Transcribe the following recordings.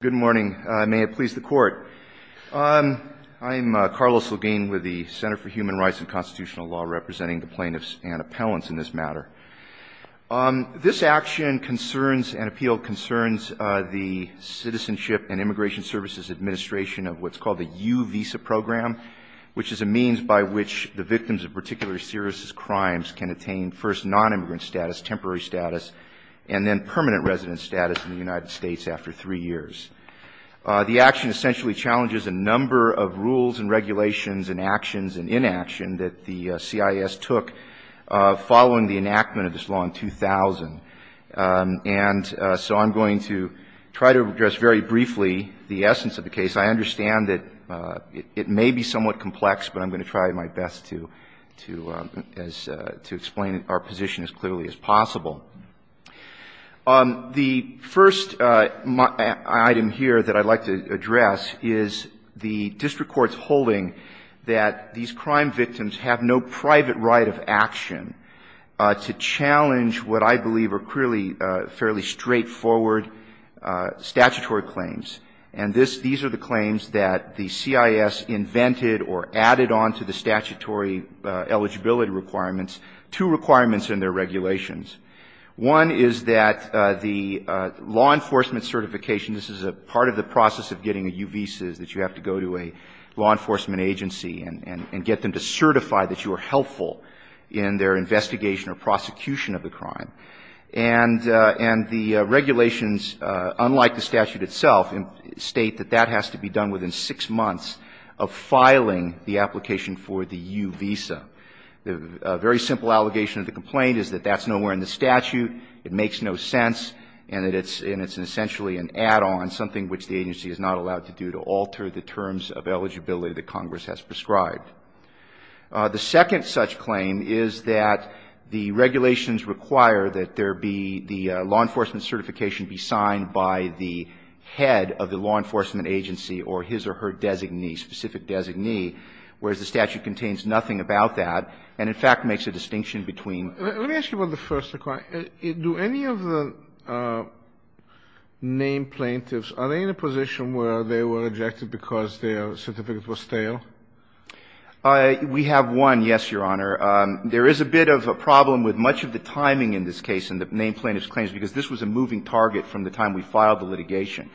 Good morning. May it please the Court. I'm Carlos Lagine with the Center for Human Rights and Constitutional Law, representing the plaintiffs and appellants in this matter. This action concerns and appealed concerns the Citizenship and Immigration Services Administration of what's called the U-Visa program, which is a means by which the victims of particularly serious crimes can attain first non-immigrant status, temporary status, and then permanent resident status in the United States after three years. The action essentially challenges a number of rules and regulations and actions and inaction that the CIS took following the enactment of this law in 2000. And so I'm going to try to address very briefly the essence of the case. I understand that it may be somewhat complex, but I'm going to try my best to explain our position as clearly as possible. The first item here that I'd like to address is the district court's holding that these crime victims have no private right of action to challenge what I believe are clearly fairly straightforward statutory claims. And these are the claims that the CIS invented or added on to the statutory eligibility requirements, two requirements in their regulations. One is that the law enforcement certification, this is a part of the process of getting a U-Visa, is that you have to go to a law enforcement agency and get them to certify that you are helpful in their investigation or prosecution of the crime. And the regulations, unlike the statute itself, state that that has to be done within six months of filing the application for the U-Visa. A very simple allegation of the complaint is that that's nowhere in the statute, it makes no sense, and that it's essentially an add-on, something which the agency is not allowed to do to alter the terms of eligibility that Congress has prescribed. The second such claim is that the regulations require that there be the law enforcement certification be signed by the head of the law enforcement agency or his or her designee, specific designee, whereas the statute contains nothing about that and, in fact, makes a distinction between. Let me ask you about the first requirement. Do any of the named plaintiffs, are they in a position where they were rejected because their certificate was stale? We have one, yes, Your Honor. There is a bit of a problem with much of the timing in this case in the named plaintiffs' claims because this was a moving target from the time we filed the litigation.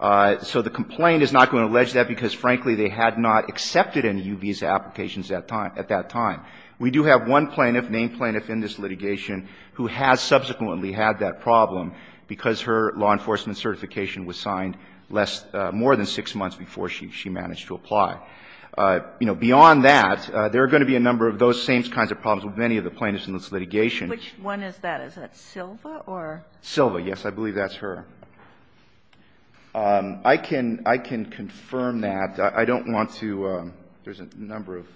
So the complaint is not going to allege that because, frankly, they had not accepted any U-Visa applications at that time. We do have one plaintiff, named plaintiff in this litigation, who has subsequently had that problem because her law enforcement certification was signed less, more than six months before she managed to apply. You know, beyond that, there are going to be a number of those same kinds of problems with many of the plaintiffs in this litigation. Which one is that? Is that Silva or? Silva, yes. I believe that's her. I can confirm that. I don't want to – there's a number of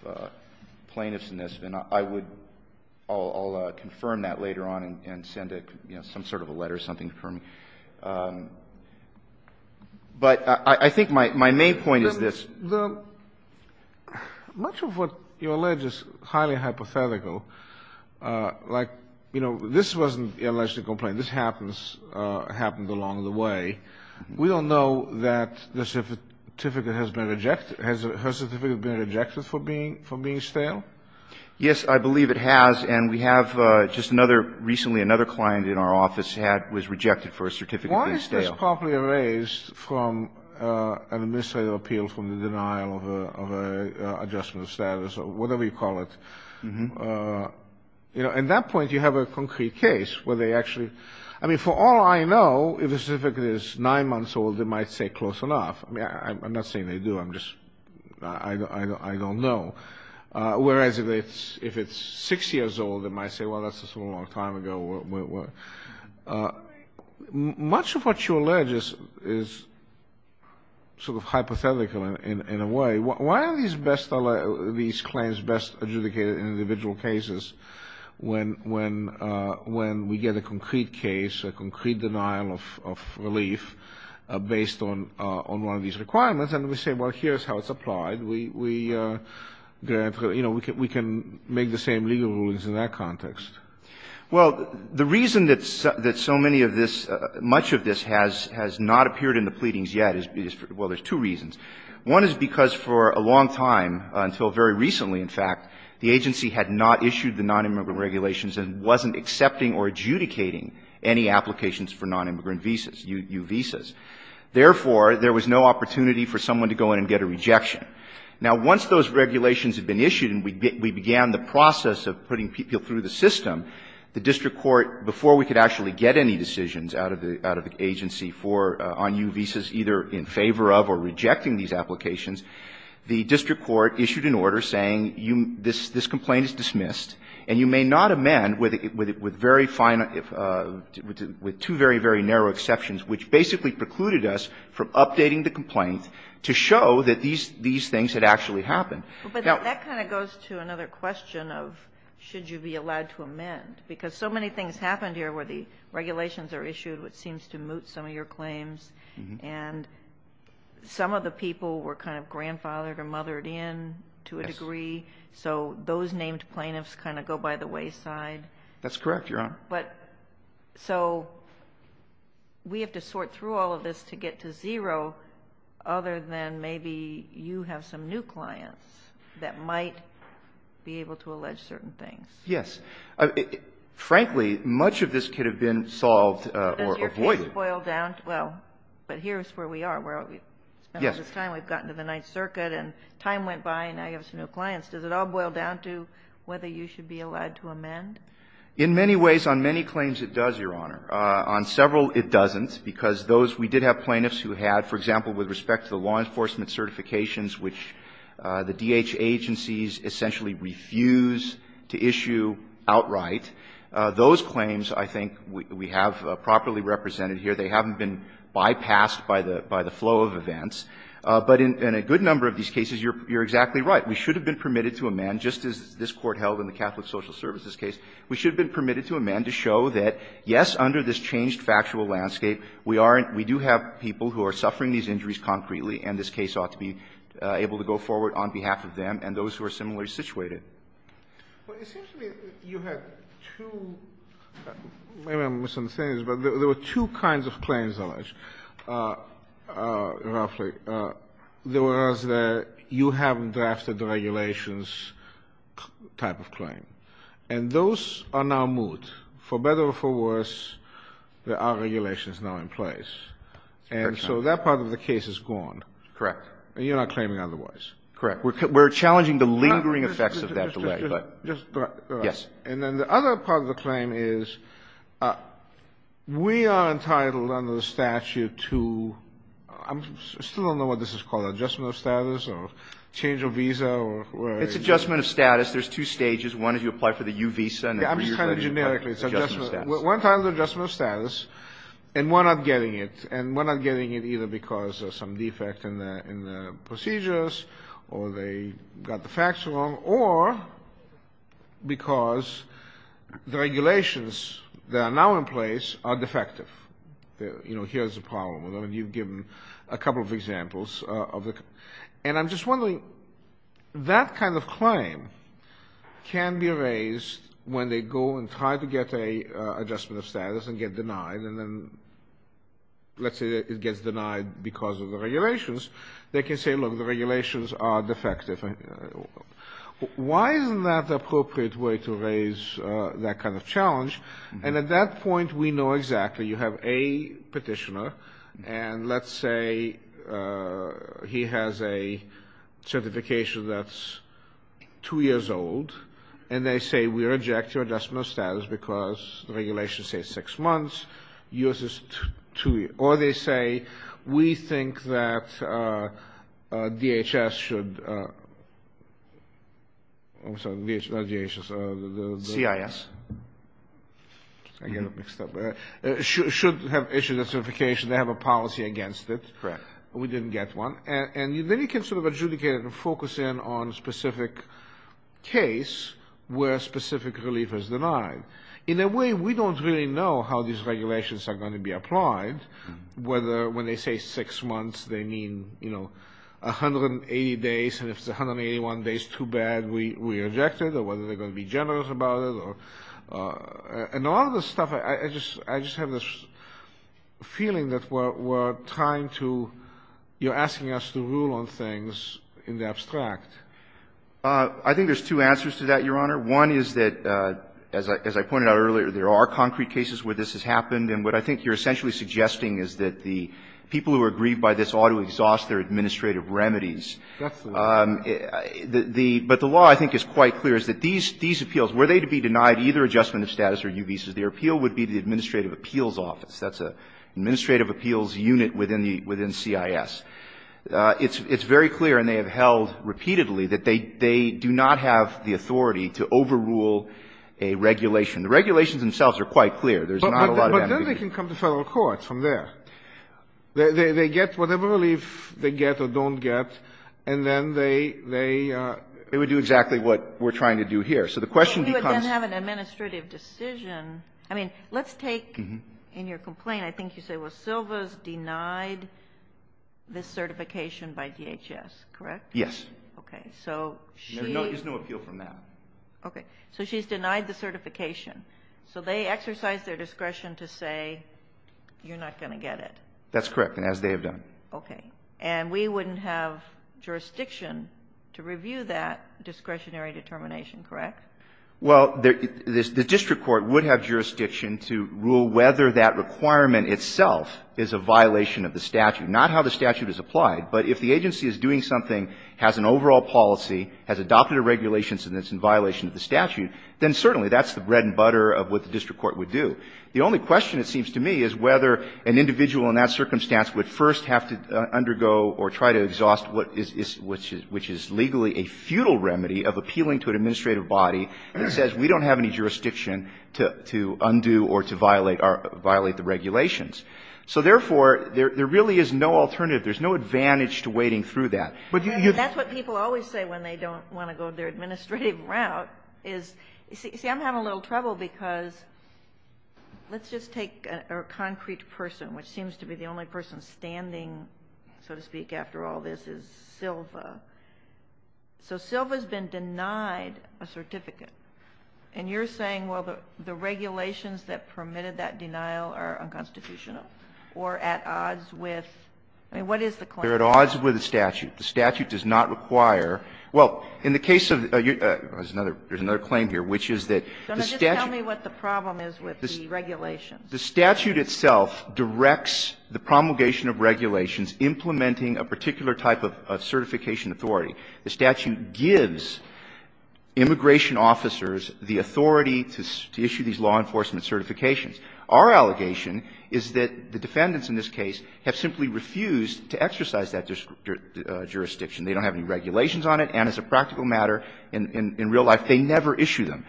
plaintiffs in this, and I would – I'll confirm that later on and send some sort of a letter or something for me. But I think my main point is this. The – much of what you allege is highly hypothetical. Like, you know, this wasn't an alleged complaint. This happens – happened along the way. We don't know that the certificate has been rejected. Has her certificate been rejected for being – for being stale? Yes, I believe it has. And we have just another – recently another client in our office had – was rejected for a certificate being stale. I think that's probably erased from an administrative appeal from the denial of a adjustment of status or whatever you call it. You know, at that point, you have a concrete case where they actually – I mean, for all I know, if a certificate is nine months old, it might say close enough. I mean, I'm not saying they do. I'm just – I don't know. Whereas if it's six years old, it might say, well, that's a long time ago. Much of what you allege is sort of hypothetical in a way. Why are these best – these claims best adjudicated in individual cases when we get a concrete case, a concrete denial of relief based on one of these requirements, and we say, well, here's how it's applied. We – you know, we can make the same legal rulings in that context. Well, the reason that so many of this – much of this has not appeared in the pleadings yet is because – well, there's two reasons. One is because for a long time, until very recently in fact, the agency had not issued the nonimmigrant regulations and wasn't accepting or adjudicating any applications for nonimmigrant visas, U visas. Therefore, there was no opportunity for someone to go in and get a rejection. Now, once those regulations had been issued and we began the process of putting people through the system, the district court, before we could actually get any decisions out of the – out of the agency for – on U visas, either in favor of or rejecting these applications, the district court issued an order saying you – this complaint is dismissed, and you may not amend with very fine – with two very, very narrow exceptions, which basically precluded us from updating the complaint to show that these – these things had actually happened. But that kind of goes to another question of should you be allowed to amend? Because so many things happened here where the regulations are issued, which seems to moot some of your claims, and some of the people were kind of grandfathered or mothered in to a degree. Yes. So those named plaintiffs kind of go by the wayside. That's correct, Your Honor. But so we have to sort through all of this to get to zero other than maybe you have some new clients that might be able to allege certain things. Yes. Frankly, much of this could have been solved or avoided. Does your case boil down to – well, but here's where we are. We've spent all this time. We've gotten to the Ninth Circuit, and time went by, and now you have some new clients. Does it all boil down to whether you should be allowed to amend? In many ways, on many claims it does, Your Honor. On several, it doesn't, because those – we did have plaintiffs who had, for example, with respect to the law enforcement certifications, which the D.H. agencies essentially refuse to issue outright. Those claims, I think, we have properly represented here. They haven't been bypassed by the flow of events. But in a good number of these cases, you're exactly right. We should have been permitted to amend, just as this Court held in the Catholic Social Services case. We should have been permitted to amend to show that, yes, under this changed factual landscape, we are – we do have people who are suffering these injuries concretely, and this case ought to be able to go forward on behalf of them and those who are similarly situated. Well, it seems to me you had two – maybe I'm misunderstanding this, but there were two kinds of claims, Alij, roughly. There was the you haven't drafted the regulations type of claim. And those are now moved. For better or for worse, there are regulations now in place. And so that part of the case is gone. Correct. And you're not claiming otherwise. Correct. We're challenging the lingering effects of that delay, but yes. And then the other part of the claim is we are entitled under the statute to – I still don't know what this is called, adjustment of status or change of visa or whatever it is. It's adjustment of status. There's two stages. One is you apply for the U visa, and the other is you apply for the adjustment of status. I'm just trying to – generically, it's adjustment. One time it's adjustment of status, and we're not getting it. And we're not getting it either because there's some defect in the procedures or they got the facts wrong or because the regulations that are now in place are defective. You know, here's the problem. You've given a couple of examples of the – and I'm just wondering, that kind of challenge can be raised when they go and try to get a adjustment of status and get denied, and then let's say it gets denied because of the regulations. They can say, look, the regulations are defective. Why isn't that the appropriate way to raise that kind of challenge? And at that point, we know exactly. You have a petitioner, and let's say he has a certification that's two years old, and they say we reject your adjustment of status because the regulations say six months. Yours is two years. Or they say, we think that DHS should – I'm sorry, not DHS. CIS. I get it mixed up. Should have issued a certification. They have a policy against it. Correct. We didn't get one. And then you can sort of adjudicate it and focus in on specific case where specific relief is denied. In a way, we don't really know how these regulations are going to be applied, whether when they say six months, they mean, you know, 180 days, and if it's 181 days too bad, we reject it, or whether they're going to be generous about it, or – and all of this stuff, I just have this feeling that we're trying to – you're asking us to rule on things in the abstract. I think there's two answers to that, Your Honor. One is that, as I pointed out earlier, there are concrete cases where this has happened. And what I think you're essentially suggesting is that the people who are grieved by this ought to exhaust their administrative remedies. That's the law. The – but the law, I think, is quite clear, is that these appeals, were they to be denied either adjustment of status or new visas, their appeal would be the administrative appeals office. That's an administrative appeals unit within the – within CIS. It's very clear, and they have held repeatedly, that they do not have the authority to overrule a regulation. The regulations themselves are quite clear. There's not a lot of ambiguity. But then they can come to Federal courts from there. They get whatever relief they get or don't get, and then they would do exactly what we're trying to do here. So the question becomes – But you would then have an administrative decision. I mean, let's take – in your complaint, I think you say, well, Silva's denied this certification by DHS, correct? Yes. Okay. So she – There's no appeal from that. Okay. So she's denied the certification. So they exercise their discretion to say, you're not going to get it. That's correct, and as they have done. Okay. And we wouldn't have jurisdiction to review that discretionary determination, correct? Well, the district court would have jurisdiction to rule whether that requirement itself is a violation of the statute, not how the statute is applied. But if the agency is doing something, has an overall policy, has adopted a regulation that's in violation of the statute, then certainly that's the bread and butter of what the district court would do. The only question, it seems to me, is whether an individual in that circumstance would first have to undergo or try to exhaust what is – which is legally a futile remedy of appealing to an administrative body that says we don't have any jurisdiction to undo or to violate the regulations. So therefore, there really is no alternative. There's no advantage to wading through that. And that's what people always say when they don't want to go their administrative route, is – see, I'm having a little trouble because let's just take a concrete person, which seems to be the only person standing, so to speak, after all this, is Silva. So Silva's been denied a certificate. And you're saying, well, the regulations that permitted that denial are unconstitutional or at odds with – I mean, what is the claim? They're at odds with the statute. The statute does not require – well, in the case of – there's another claim here, which is that the statute – Sotomayor, just tell me what the problem is with the regulations. The statute itself directs the promulgation of regulations implementing a particular type of certification authority. The statute gives immigration officers the authority to issue these law enforcement certifications. Our allegation is that the defendants in this case have simply refused to exercise that jurisdiction. They don't have any regulations on it. And as a practical matter, in real life, they never issue them.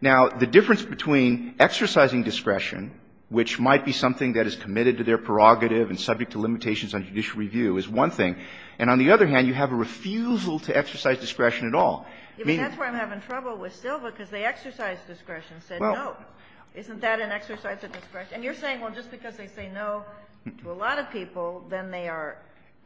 Now, the difference between exercising discretion, which might be something that is committed to their prerogative and subject to limitations on judicial review, is one thing. And on the other hand, you have a refusal to exercise discretion at all. I mean – Isn't that an exercise of discretion? And you're saying, well, just because they say no to a lot of people, then they are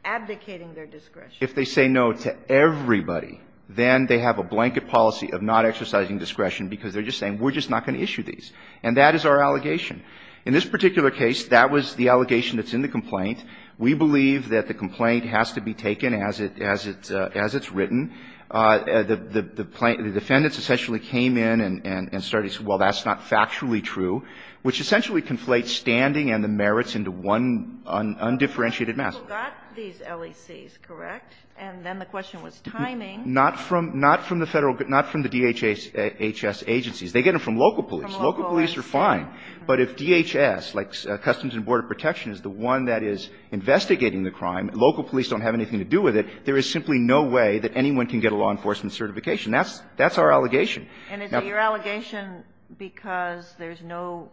abdicating their discretion. If they say no to everybody, then they have a blanket policy of not exercising discretion because they're just saying, we're just not going to issue these. And that is our allegation. In this particular case, that was the allegation that's in the complaint. We believe that the complaint has to be taken as it's written. The defendants essentially came in and started to say, well, that's not factually true, which essentially conflates standing and the merits into one undifferentiated mass. Kagan. You got these LECs, correct? And then the question was timing. Not from the Federal – not from the DHS agencies. They get them from local police. Local police are fine. But if DHS, like Customs and Border Protection, is the one that is investigating the crime, local police don't have anything to do with it, there is simply no way that anyone can get a law enforcement certification. That's our allegation. And is it your allegation because there's no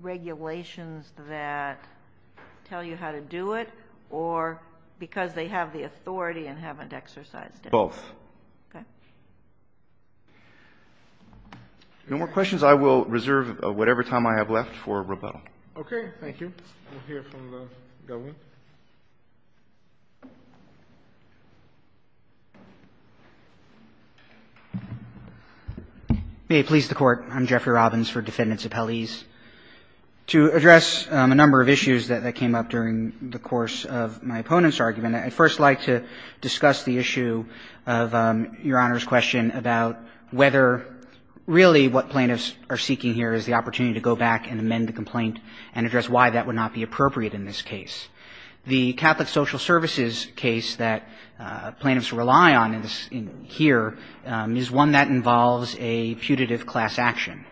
regulations that tell you how to do it or because they have the authority and haven't exercised it? Both. Okay. No more questions. I will reserve whatever time I have left for rebuttal. Okay. Thank you. We'll hear from the government. May it please the Court. I'm Jeffrey Robbins for Defendants Appellees. To address a number of issues that came up during the course of my opponent's argument, I'd first like to discuss the issue of Your Honor's question about whether really what plaintiffs are seeking here is the opportunity to go back and amend the complaint and address why that would not be appropriate in this case. The Catholic Social Services case that plaintiffs rely on here is one that involves a putative class action.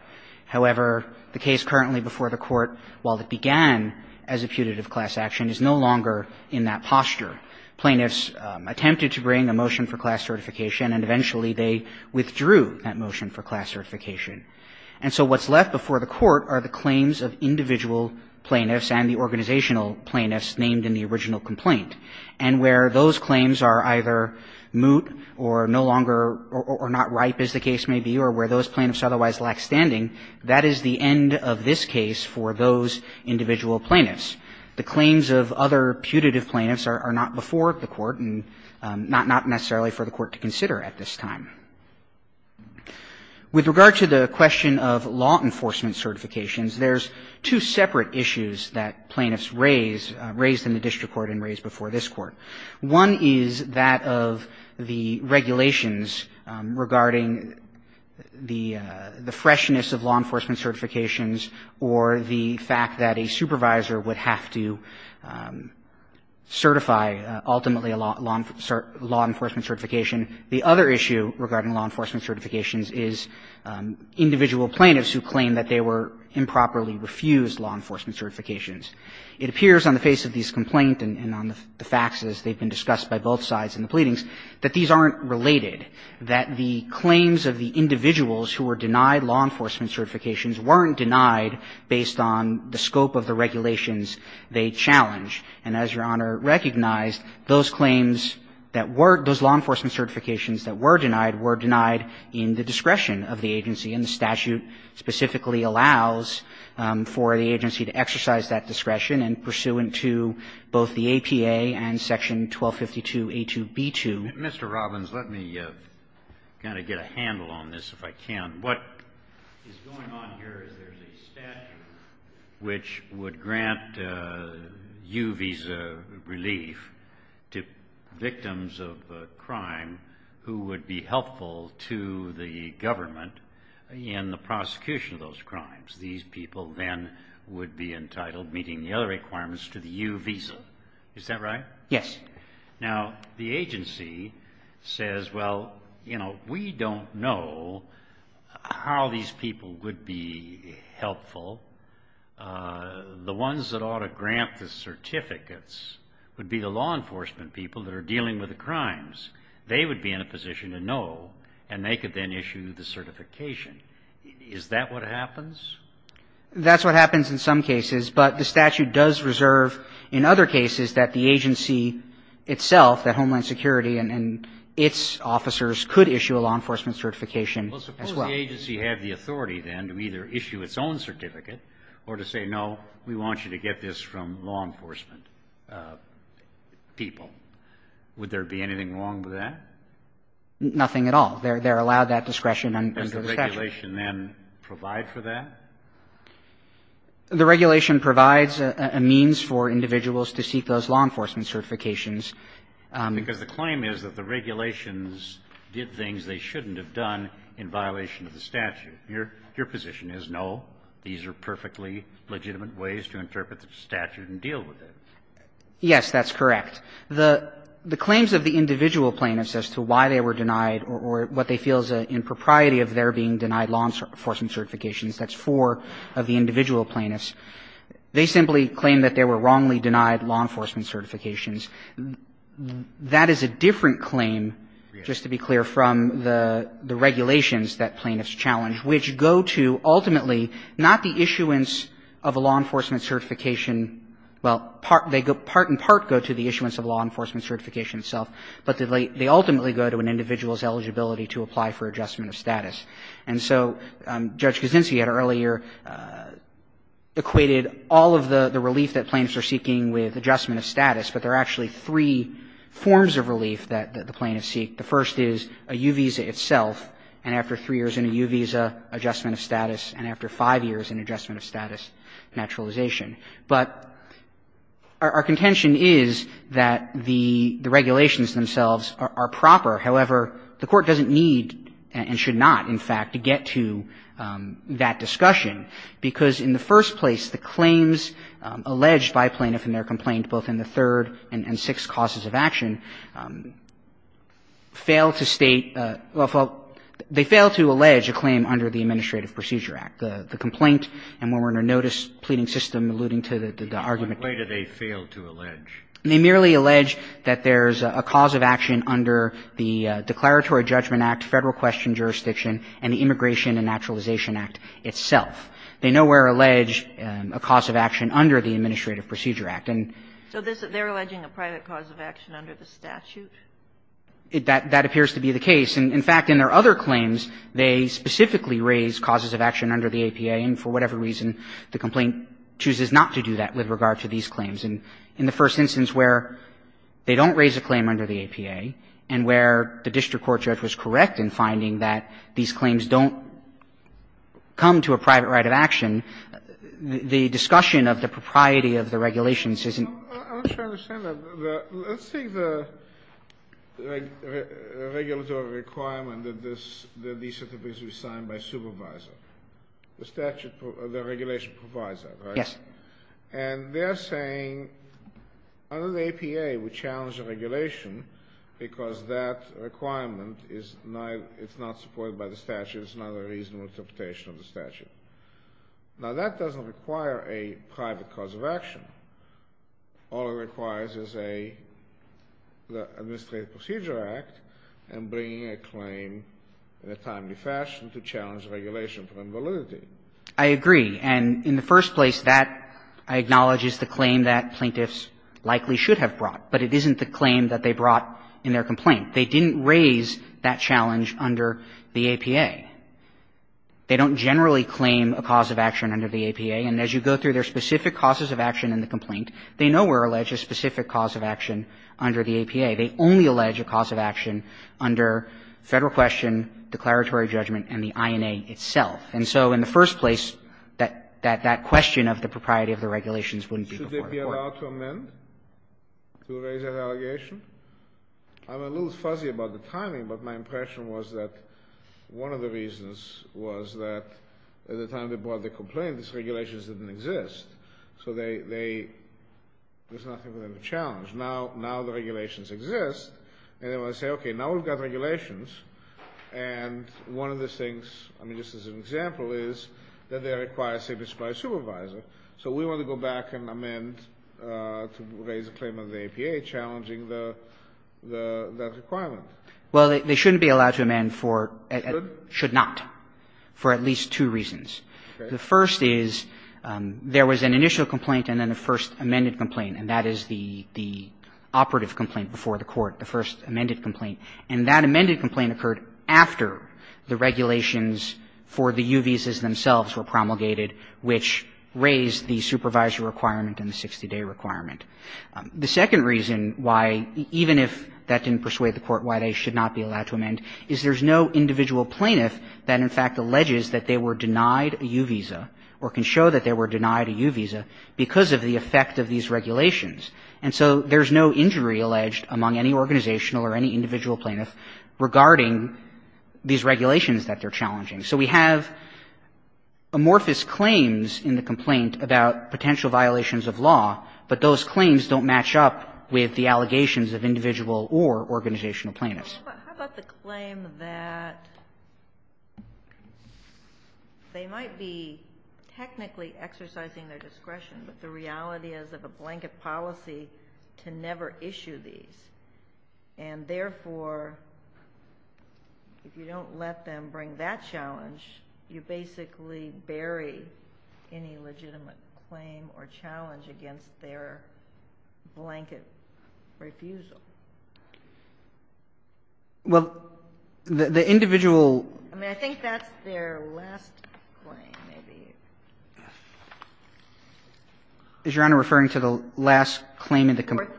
However, the case currently before the Court, while it began as a putative class action, is no longer in that posture. Plaintiffs attempted to bring a motion for class certification, and eventually they withdrew that motion for class certification. And so what's left before the Court are the claims of individual plaintiffs and the organizational plaintiffs named in the original complaint. And where those claims are either moot or no longer or not ripe, as the case may be, or where those plaintiffs otherwise lack standing, that is the end of this case for those individual plaintiffs. The claims of other putative plaintiffs are not before the Court and not necessarily for the Court to consider at this time. With regard to the question of law enforcement certifications, there's two separate issues that plaintiffs raise, raised in the district court and raised before this court. One is that of the regulations regarding the freshness of law enforcement certifications or the fact that a supervisor would have to certify ultimately a law enforcement certification. The other issue regarding law enforcement certifications is individual plaintiffs who claim that they were improperly refused law enforcement certifications. It appears on the face of these complaints and on the faxes, they've been discussed by both sides in the pleadings, that these aren't related, that the claims of the individuals who were denied law enforcement certifications weren't denied based on the scope of the regulations they challenge. And as Your Honor recognized, those claims that were, those law enforcement certifications that were denied, were denied in the discretion of the agency. And the statute specifically allows for the agency to exercise that discretion and pursuant to both the APA and section 1252a2b2. Kennedy, Mr. Robbins, let me kind of get a handle on this if I can. What is going on here is there's a statute which would grant U visa relief to victims of a crime who would be helpful to the government in the prosecution of those crimes. These people then would be entitled, meeting the other requirements, to the U visa. Is that right? Yes. Now, the agency says, well, you know, we don't know how these people would be helpful. The ones that ought to grant the certificates would be the law enforcement people that are dealing with the crimes. They would be in a position to know, and they could then issue the certification. Is that what happens? That's what happens in some cases. But the statute does reserve in other cases that the agency itself, that Homeland Security and its officers, could issue a law enforcement certification as well. Well, suppose the agency had the authority then to either issue its own certificate or to say, no, we want you to get this from law enforcement people. Would there be anything wrong with that? Nothing at all. They're allowed that discretion under the statute. Does the regulation then provide for that? The regulation provides a means for individuals to seek those law enforcement certifications. Because the claim is that the regulations did things they shouldn't have done in violation of the statute. Your position is, no, these are perfectly legitimate ways to interpret the statute and deal with it. Yes, that's correct. The claims of the individual plaintiffs as to why they were denied or what they feel is an impropriety of their being denied law enforcement certifications. That's four of the individual plaintiffs. They simply claim that they were wrongly denied law enforcement certifications. That is a different claim, just to be clear, from the regulations that plaintiffs challenge, which go to ultimately not the issuance of a law enforcement certification – well, part – they go – part and part go to the issuance of a law enforcement certification itself, but they ultimately go to an individual's eligibility to apply for adjustment of status. And so Judge Kuczynski had earlier equated all of the relief that plaintiffs are seeking with adjustment of status, but there are actually three forms of relief that the plaintiffs seek. The first is a U visa itself, and after three years in a U visa, adjustment of status, and after five years, an adjustment of status, naturalization. But our contention is that the regulations themselves are proper. However, the Court doesn't need, and should not, in fact, to get to that discussion, because in the first place, the claims alleged by a plaintiff in their complaint both in the third and sixth causes of action fail to state – well, they fail to allege a claim under the Administrative Procedure Act. The complaint, and when we're in a notice-pleading system, alluding to the argument – In what way do they fail to allege? They merely allege that there's a cause of action under the Declaratory Judgment Act, Federal Question Jurisdiction, and the Immigration and Naturalization Act itself. They nowhere allege a cause of action under the Administrative Procedure Act. And – So this – they're alleging a private cause of action under the statute? That – that appears to be the case. In fact, in their other claims, they specifically raise causes of action under the APA, and for whatever reason, the complaint chooses not to do that with regard to these claims. And in the first instance where they don't raise a claim under the APA, and where the district court judge was correct in finding that these claims don't come to a private right of action, the discussion of the propriety of the regulations isn't – Let's take the regulatory requirement that this – that these certificates be signed by a supervisor. The statute – the regulation provides that, right? Yes. And they're saying under the APA, we challenge the regulation because that requirement is – it's not supported by the statute. It's not a reasonable interpretation of the statute. Now, that doesn't require a private cause of action. All it requires is a – the Administrative Procedure Act and bringing a claim in a timely fashion to challenge regulation for invalidity. I agree. And in the first place, that, I acknowledge, is the claim that plaintiffs likely should have brought. But it isn't the claim that they brought in their complaint. They didn't raise that challenge under the APA. They don't generally claim a cause of action under the APA. And as you go through their specific causes of action in the complaint, they nowhere allege a specific cause of action under the APA. They only allege a cause of action under Federal question, declaratory judgment, and the INA itself. And so in the first place, that – that question of the propriety of the regulations wouldn't be required. Should they be allowed to amend to raise that allegation? I'm a little fuzzy about the timing, but my impression was that one of the reasons was that at the time they brought the complaint, these regulations didn't exist. So they – there's nothing for them to challenge. Now the regulations exist, and they want to say, okay, now we've got regulations, and one of the things – I mean, just as an example is that they require a safety supply supervisor. So we want to go back and amend to raise a claim under the APA, challenging the – that requirement. Well, they shouldn't be allowed to amend for – Should? Should not, for at least two reasons. The first is there was an initial complaint and then a first amended complaint, and that is the – the operative complaint before the court, the first amended complaint. And that amended complaint occurred after the regulations for the U visas themselves were promulgated, which raised the supervisor requirement and the 60-day requirement. The second reason why, even if that didn't persuade the court why they should not be allowed to amend, is there's no individual plaintiff that in fact alleges that they were denied a U visa or can show that they were denied a U visa because of the effect of these regulations. And so there's no injury alleged among any organizational or any individual plaintiff regarding these regulations that they're challenging. So we have amorphous claims in the complaint about potential violations of law, but those claims don't match up with the allegations of individual or organizational plaintiffs. How about the claim that they might be technically exercising their discretion, but the reality is of a blanket policy to never issue these. And therefore, if you don't let them bring that challenge, you basically bury any legitimate claim or challenge against their blanket refusal. Well, the individual. I mean, I think that's their last claim, maybe. Is Your Honor referring to the last claim in the complaint?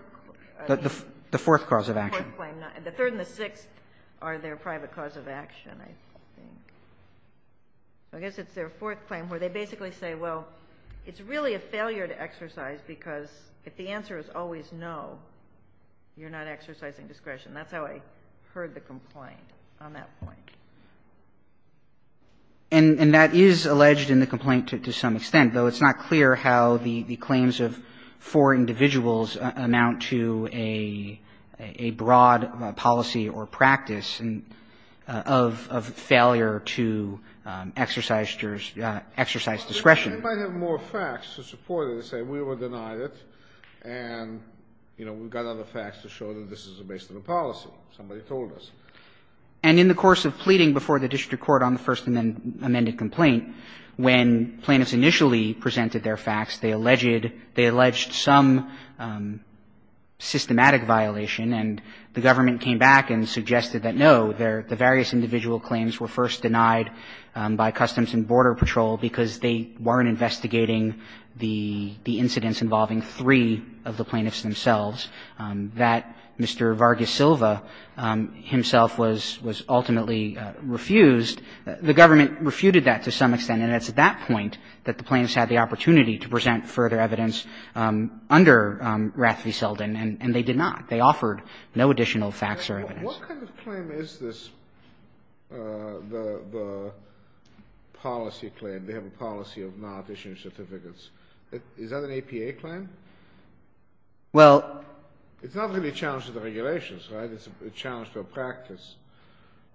The fourth cause of action. The third and the sixth are their private cause of action, I think. I guess it's their fourth claim where they basically say, well, it's really a failure to exercise because if the answer is always no, you're not exercising discretion. That's how I heard the complaint on that point. And that is alleged in the complaint to some extent, though it's not clear how the claims of four individuals amount to a broad policy or practice of failure to exercise discretion. They might have more facts to support it and say we were denied it and, you know, we've got other facts to show that this is a base of a policy, somebody told us. And in the course of pleading before the district court on the first amended complaint, when plaintiffs initially presented their facts, they alleged some systematic violation, and the government came back and suggested that, no, the various individual claims were first denied by Customs and Border Patrol because they weren't investigating the incidents involving three of the plaintiffs themselves, that Mr. Vargas-Silva himself was ultimately refused. The government refuted that to some extent, and it's at that point that the plaintiffs had the opportunity to present further evidence under Rathfield-Seldon, and they did not. They offered no additional facts or evidence. What kind of claim is this, the policy claim, they have a policy of not issuing certificates? Is that an APA claim? Well — It's not really a challenge to the regulations, right? It's a challenge to a practice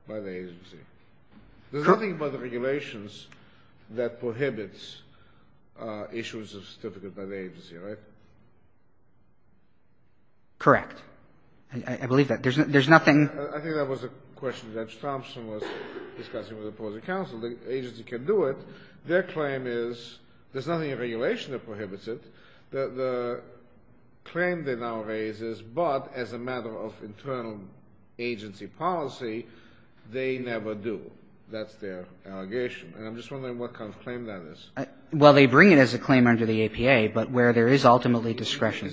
by the agency. There's nothing about the regulations that prohibits issues of certificates by the agency, right? Correct. I believe that. There's nothing — I think that was a question Judge Thompson was discussing with opposing counsel. The agency can do it. Their claim is there's nothing in regulation that prohibits it. The claim they now raise is, but as a matter of internal agency policy, they never do. That's their allegation. And I'm just wondering what kind of claim that is. Well, they bring it as a claim under the APA, but where there is ultimately discretion.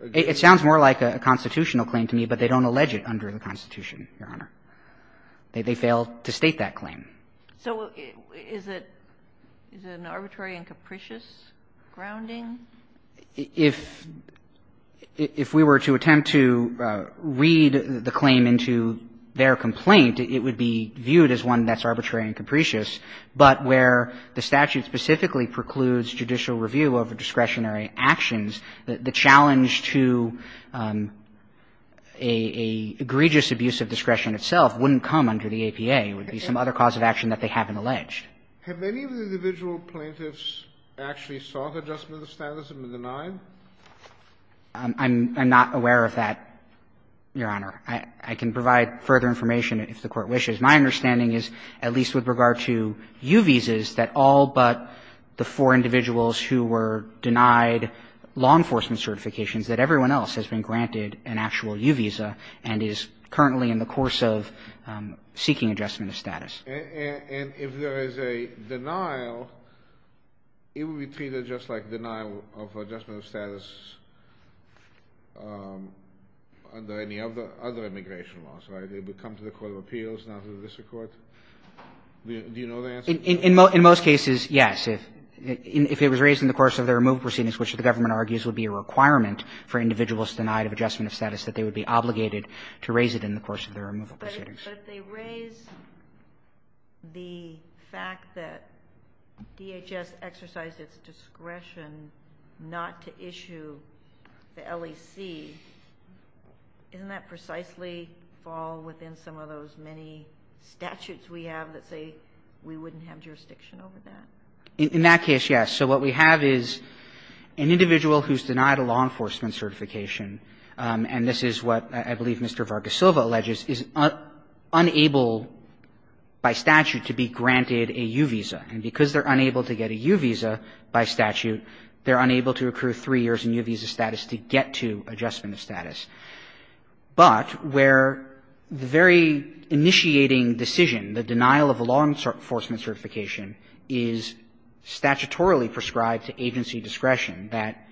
It sounds more like a constitutional claim to me, but they don't allege it under the Constitution, Your Honor. They fail to state that claim. So is it an arbitrary and capricious grounding? If we were to attempt to read the claim into their complaint, it would be viewed as one that's arbitrary and capricious, but where the statute specifically precludes judicial review over discretionary actions, the challenge to an egregious abuse of discretion itself wouldn't come under the APA. It would be some other cause of action that they haven't alleged. Have many of the individual plaintiffs actually sought adjustment of standards and been denied? I'm not aware of that, Your Honor. I can provide further information if the Court wishes. My understanding is, at least with regard to U visas, that all but the four individuals who were denied law enforcement certifications, that everyone else has been granted an actual U visa and is currently in the course of seeking adjustment of status. And if there is a denial, it would be treated just like denial of adjustment of status under any other immigration laws, right? They would come to the court of appeals, not to the district court. Do you know the answer? In most cases, yes. If it was raised in the course of their removal proceedings, which the government argues would be a requirement for individuals denied of adjustment of status, that they would be obligated to raise it in the course of their removal proceedings. But if they raise the fact that DHS exercised its discretion not to issue the LEC, doesn't that precisely fall within some of those many statutes we have that say we wouldn't have jurisdiction over that? In that case, yes. So what we have is an individual who's denied a law enforcement certification, and this is what I believe Mr. Vargasilva alleges, is unable by statute to be granted a U visa. And because they're unable to get a U visa by statute, they're unable to accrue three years in U visa status to get to adjustment of status. But where the very initiating decision, the denial of a law enforcement certification, is statutorily prescribed to agency discretion, that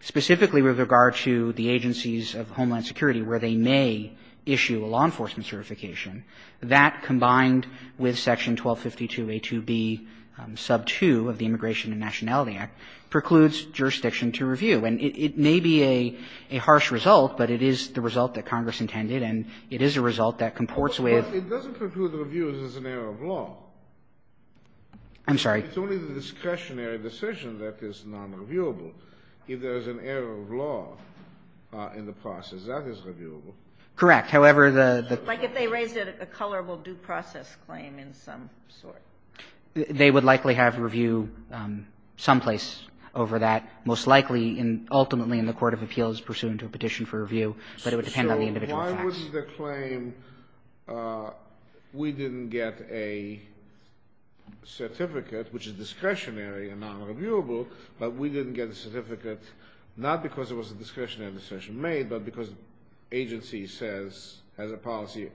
specifically with regard to the agencies of Homeland Security where they may issue a law enforcement certification, that combined with section 1252A2B sub 2 of the Immigration and Nationality Act precludes jurisdiction to review. And it may be a harsh result, but it is the result that Congress intended, and it is a result that comports with. It doesn't preclude the review as an error of law. I'm sorry. It's only the discretionary decision that is nonreviewable. If there is an error of law in the process, that is reviewable. Correct. However, the the. Like if they raised it, a colorable due process claim in some sort. They would likely have review someplace over that. Most likely and ultimately in the court of appeals pursuant to a petition for review, but it would depend on the individual facts. So why would the claim, we didn't get a certificate, which is discretionary and nonreviewable, but we didn't get a certificate not because it was a discretionary decision made, but because agency says, has a policy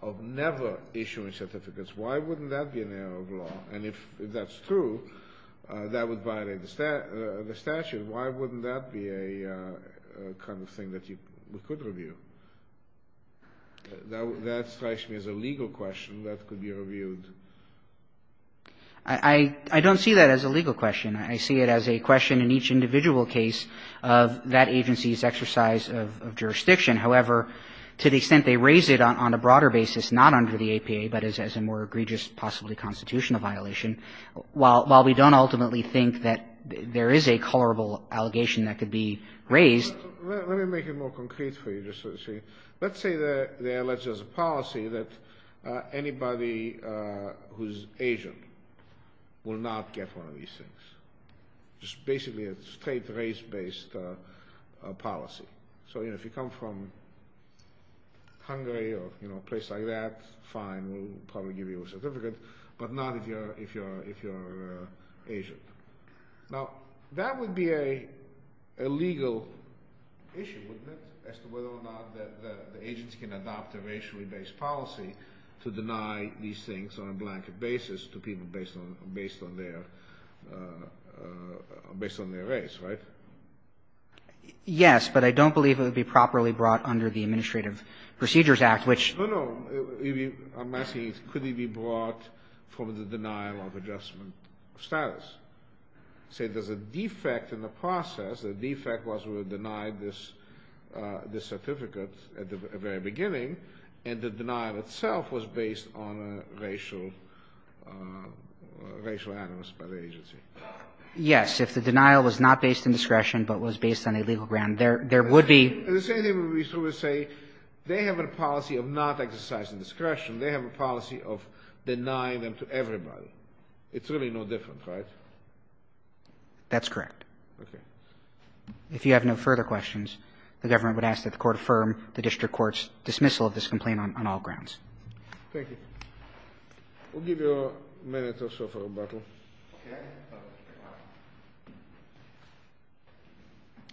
of never issuing certificates. Why wouldn't that be an error of law? And if that's true, that would violate the statute. Why wouldn't that be a kind of thing that you could review? That strikes me as a legal question that could be reviewed. I don't see that as a legal question. I see it as a question in each individual case of that agency's exercise of jurisdiction. However, to the extent they raise it on a broader basis, not under the APA, but as a more egregious, possibly constitutional violation, while we don't ultimately think that there is a colorable allegation that could be raised. Let me make it more concrete for you, just so you see. Let's say they are alleged as a policy that anybody who is Asian will not get one of these things. It's basically a straight race-based policy. So if you come from Hungary or a place like that, fine, we'll probably give you a certificate, but not if you're Asian. Now, that would be a legal issue, wouldn't it, as to whether or not the agency can adopt a racially based policy to deny these things on a blanket basis to people based on their race, right? Yes, but I don't believe it would be properly brought under the Administrative Procedures Act, which ---- No, no. I'm asking, could it be brought from the denial of adjustment of status? Say there's a defect in the process. The defect was we denied this certificate at the very beginning, and the denial Yes. If the denial was not based in discretion but was based on a legal ground, there would be ---- The same thing would be true to say they have a policy of not exercising discretion. They have a policy of denying them to everybody. It's really no different, right? That's correct. Okay. If you have no further questions, the government would ask that the Court affirm the district court's dismissal of this complaint on all grounds. Thank you. We'll give you a minute or so for rebuttal. Okay.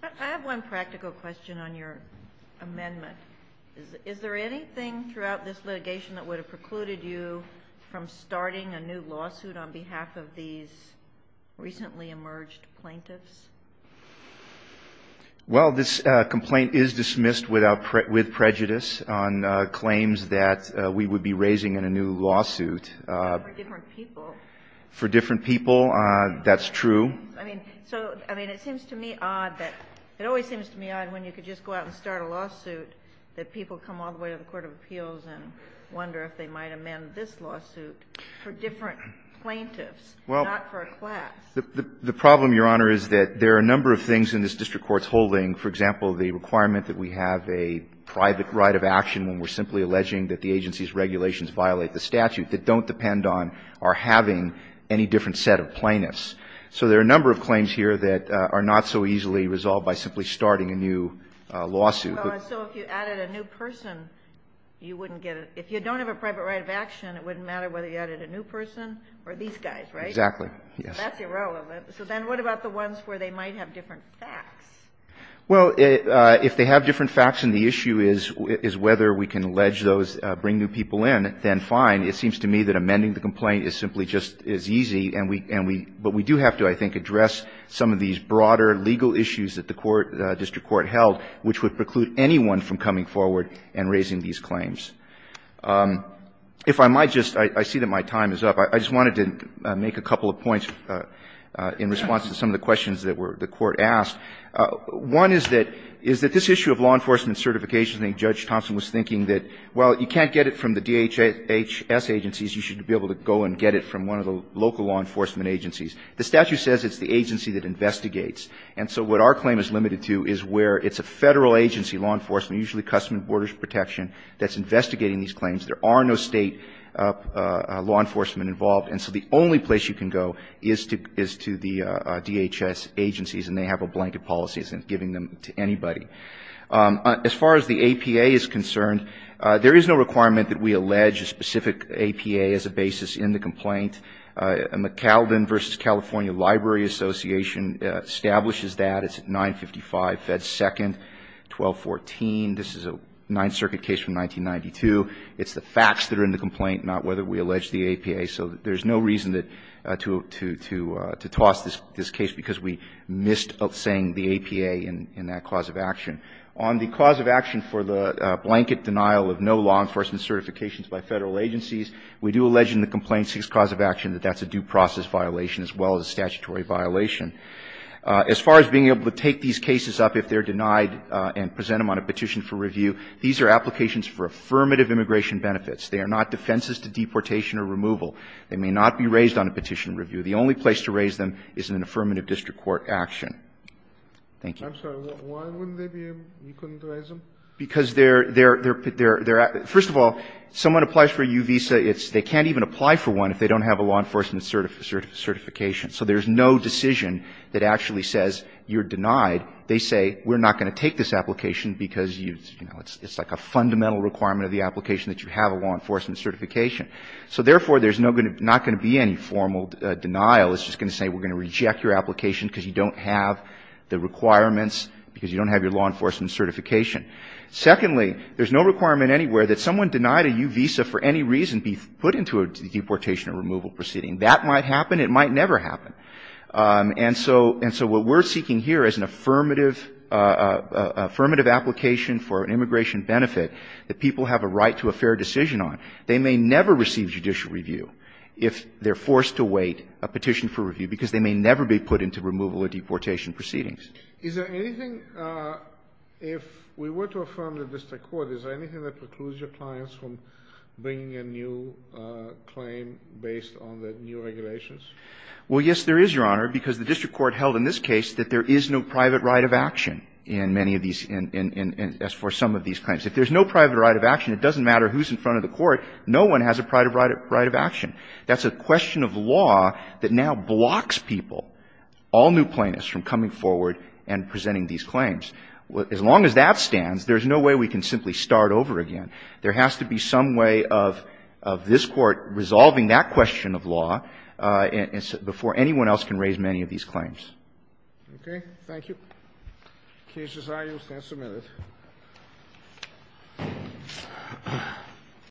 I have one practical question on your amendment. Is there anything throughout this litigation that would have precluded you from starting a new lawsuit on behalf of these recently emerged plaintiffs? Well, this complaint is dismissed with prejudice on claims that we would be raising in a new lawsuit. For different people. For different people. That's true. I mean, so, I mean, it seems to me odd that ---- it always seems to me odd when you could just go out and start a lawsuit that people come all the way to the court of appeals and wonder if they might amend this lawsuit for different plaintiffs, not for a class. The problem, Your Honor, is that there are a number of things in this district court's holding. For example, the requirement that we have a private right of action when we're set of plaintiffs. So there are a number of claims here that are not so easily resolved by simply starting a new lawsuit. So if you added a new person, you wouldn't get a ---- if you don't have a private right of action, it wouldn't matter whether you added a new person or these guys, right? Exactly. Yes. So that's irrelevant. So then what about the ones where they might have different facts? Well, if they have different facts and the issue is whether we can allege those bring new people in, then fine. It seems to me that amending the complaint is simply just as easy, and we ---- but we do have to, I think, address some of these broader legal issues that the court ---- district court held, which would preclude anyone from coming forward and raising these claims. If I might just ---- I see that my time is up. I just wanted to make a couple of points in response to some of the questions that were ---- the Court asked. One is that this issue of law enforcement certification, I think Judge Thompson was thinking that, well, you can't get it from the DHS agencies, you should be able to go and get it from one of the local law enforcement agencies. The statute says it's the agency that investigates. And so what our claim is limited to is where it's a Federal agency, law enforcement, usually Customs and Borders Protection, that's investigating these claims. There are no State law enforcement involved. And so the only place you can go is to the DHS agencies, and they have a blanket policy that isn't giving them to anybody. As far as the APA is concerned, there is no requirement that we allege a specific APA as a basis in the complaint. McCalvin v. California Library Association establishes that. It's at 955 Fed. 2nd, 1214. This is a Ninth Circuit case from 1992. It's the facts that are in the complaint, not whether we allege the APA. So there's no reason to toss this case because we missed saying the APA in that On the cause of action for the blanket denial of no law enforcement certifications by Federal agencies, we do allege in the complaint's sixth cause of action that that's a due process violation as well as a statutory violation. As far as being able to take these cases up if they're denied and present them on a petition for review, these are applications for affirmative immigration benefits. They are not defenses to deportation or removal. They may not be raised on a petition review. The only place to raise them is in an affirmative district court action. Thank you. I'm sorry. Why wouldn't they be? You couldn't raise them? Because they're, first of all, someone applies for a U visa. They can't even apply for one if they don't have a law enforcement certification. So there's no decision that actually says you're denied. They say we're not going to take this application because it's like a fundamental requirement of the application that you have a law enforcement certification. So therefore, there's not going to be any formal denial. It's just going to say we're going to reject your application because you don't have the requirements, because you don't have your law enforcement certification. Secondly, there's no requirement anywhere that someone denied a U visa for any reason be put into a deportation or removal proceeding. That might happen. It might never happen. And so what we're seeking here is an affirmative application for an immigration benefit that people have a right to a fair decision on. They may never receive judicial review if they're forced to wait a petition for review because they may never be put into removal or deportation proceedings. Is there anything, if we were to affirm the district court, is there anything that precludes your clients from bringing a new claim based on the new regulations? Well, yes, there is, Your Honor, because the district court held in this case that there is no private right of action in many of these, as for some of these claims. If there's no private right of action, it doesn't matter who's in front of the court. No one has a private right of action. That's a question of law that now blocks people, all new plaintiffs, from coming forward and presenting these claims. As long as that stands, there's no way we can simply start over again. There has to be some way of this Court resolving that question of law before anyone else can raise many of these claims. Thank you. The case is ayed. You may stand for a minute.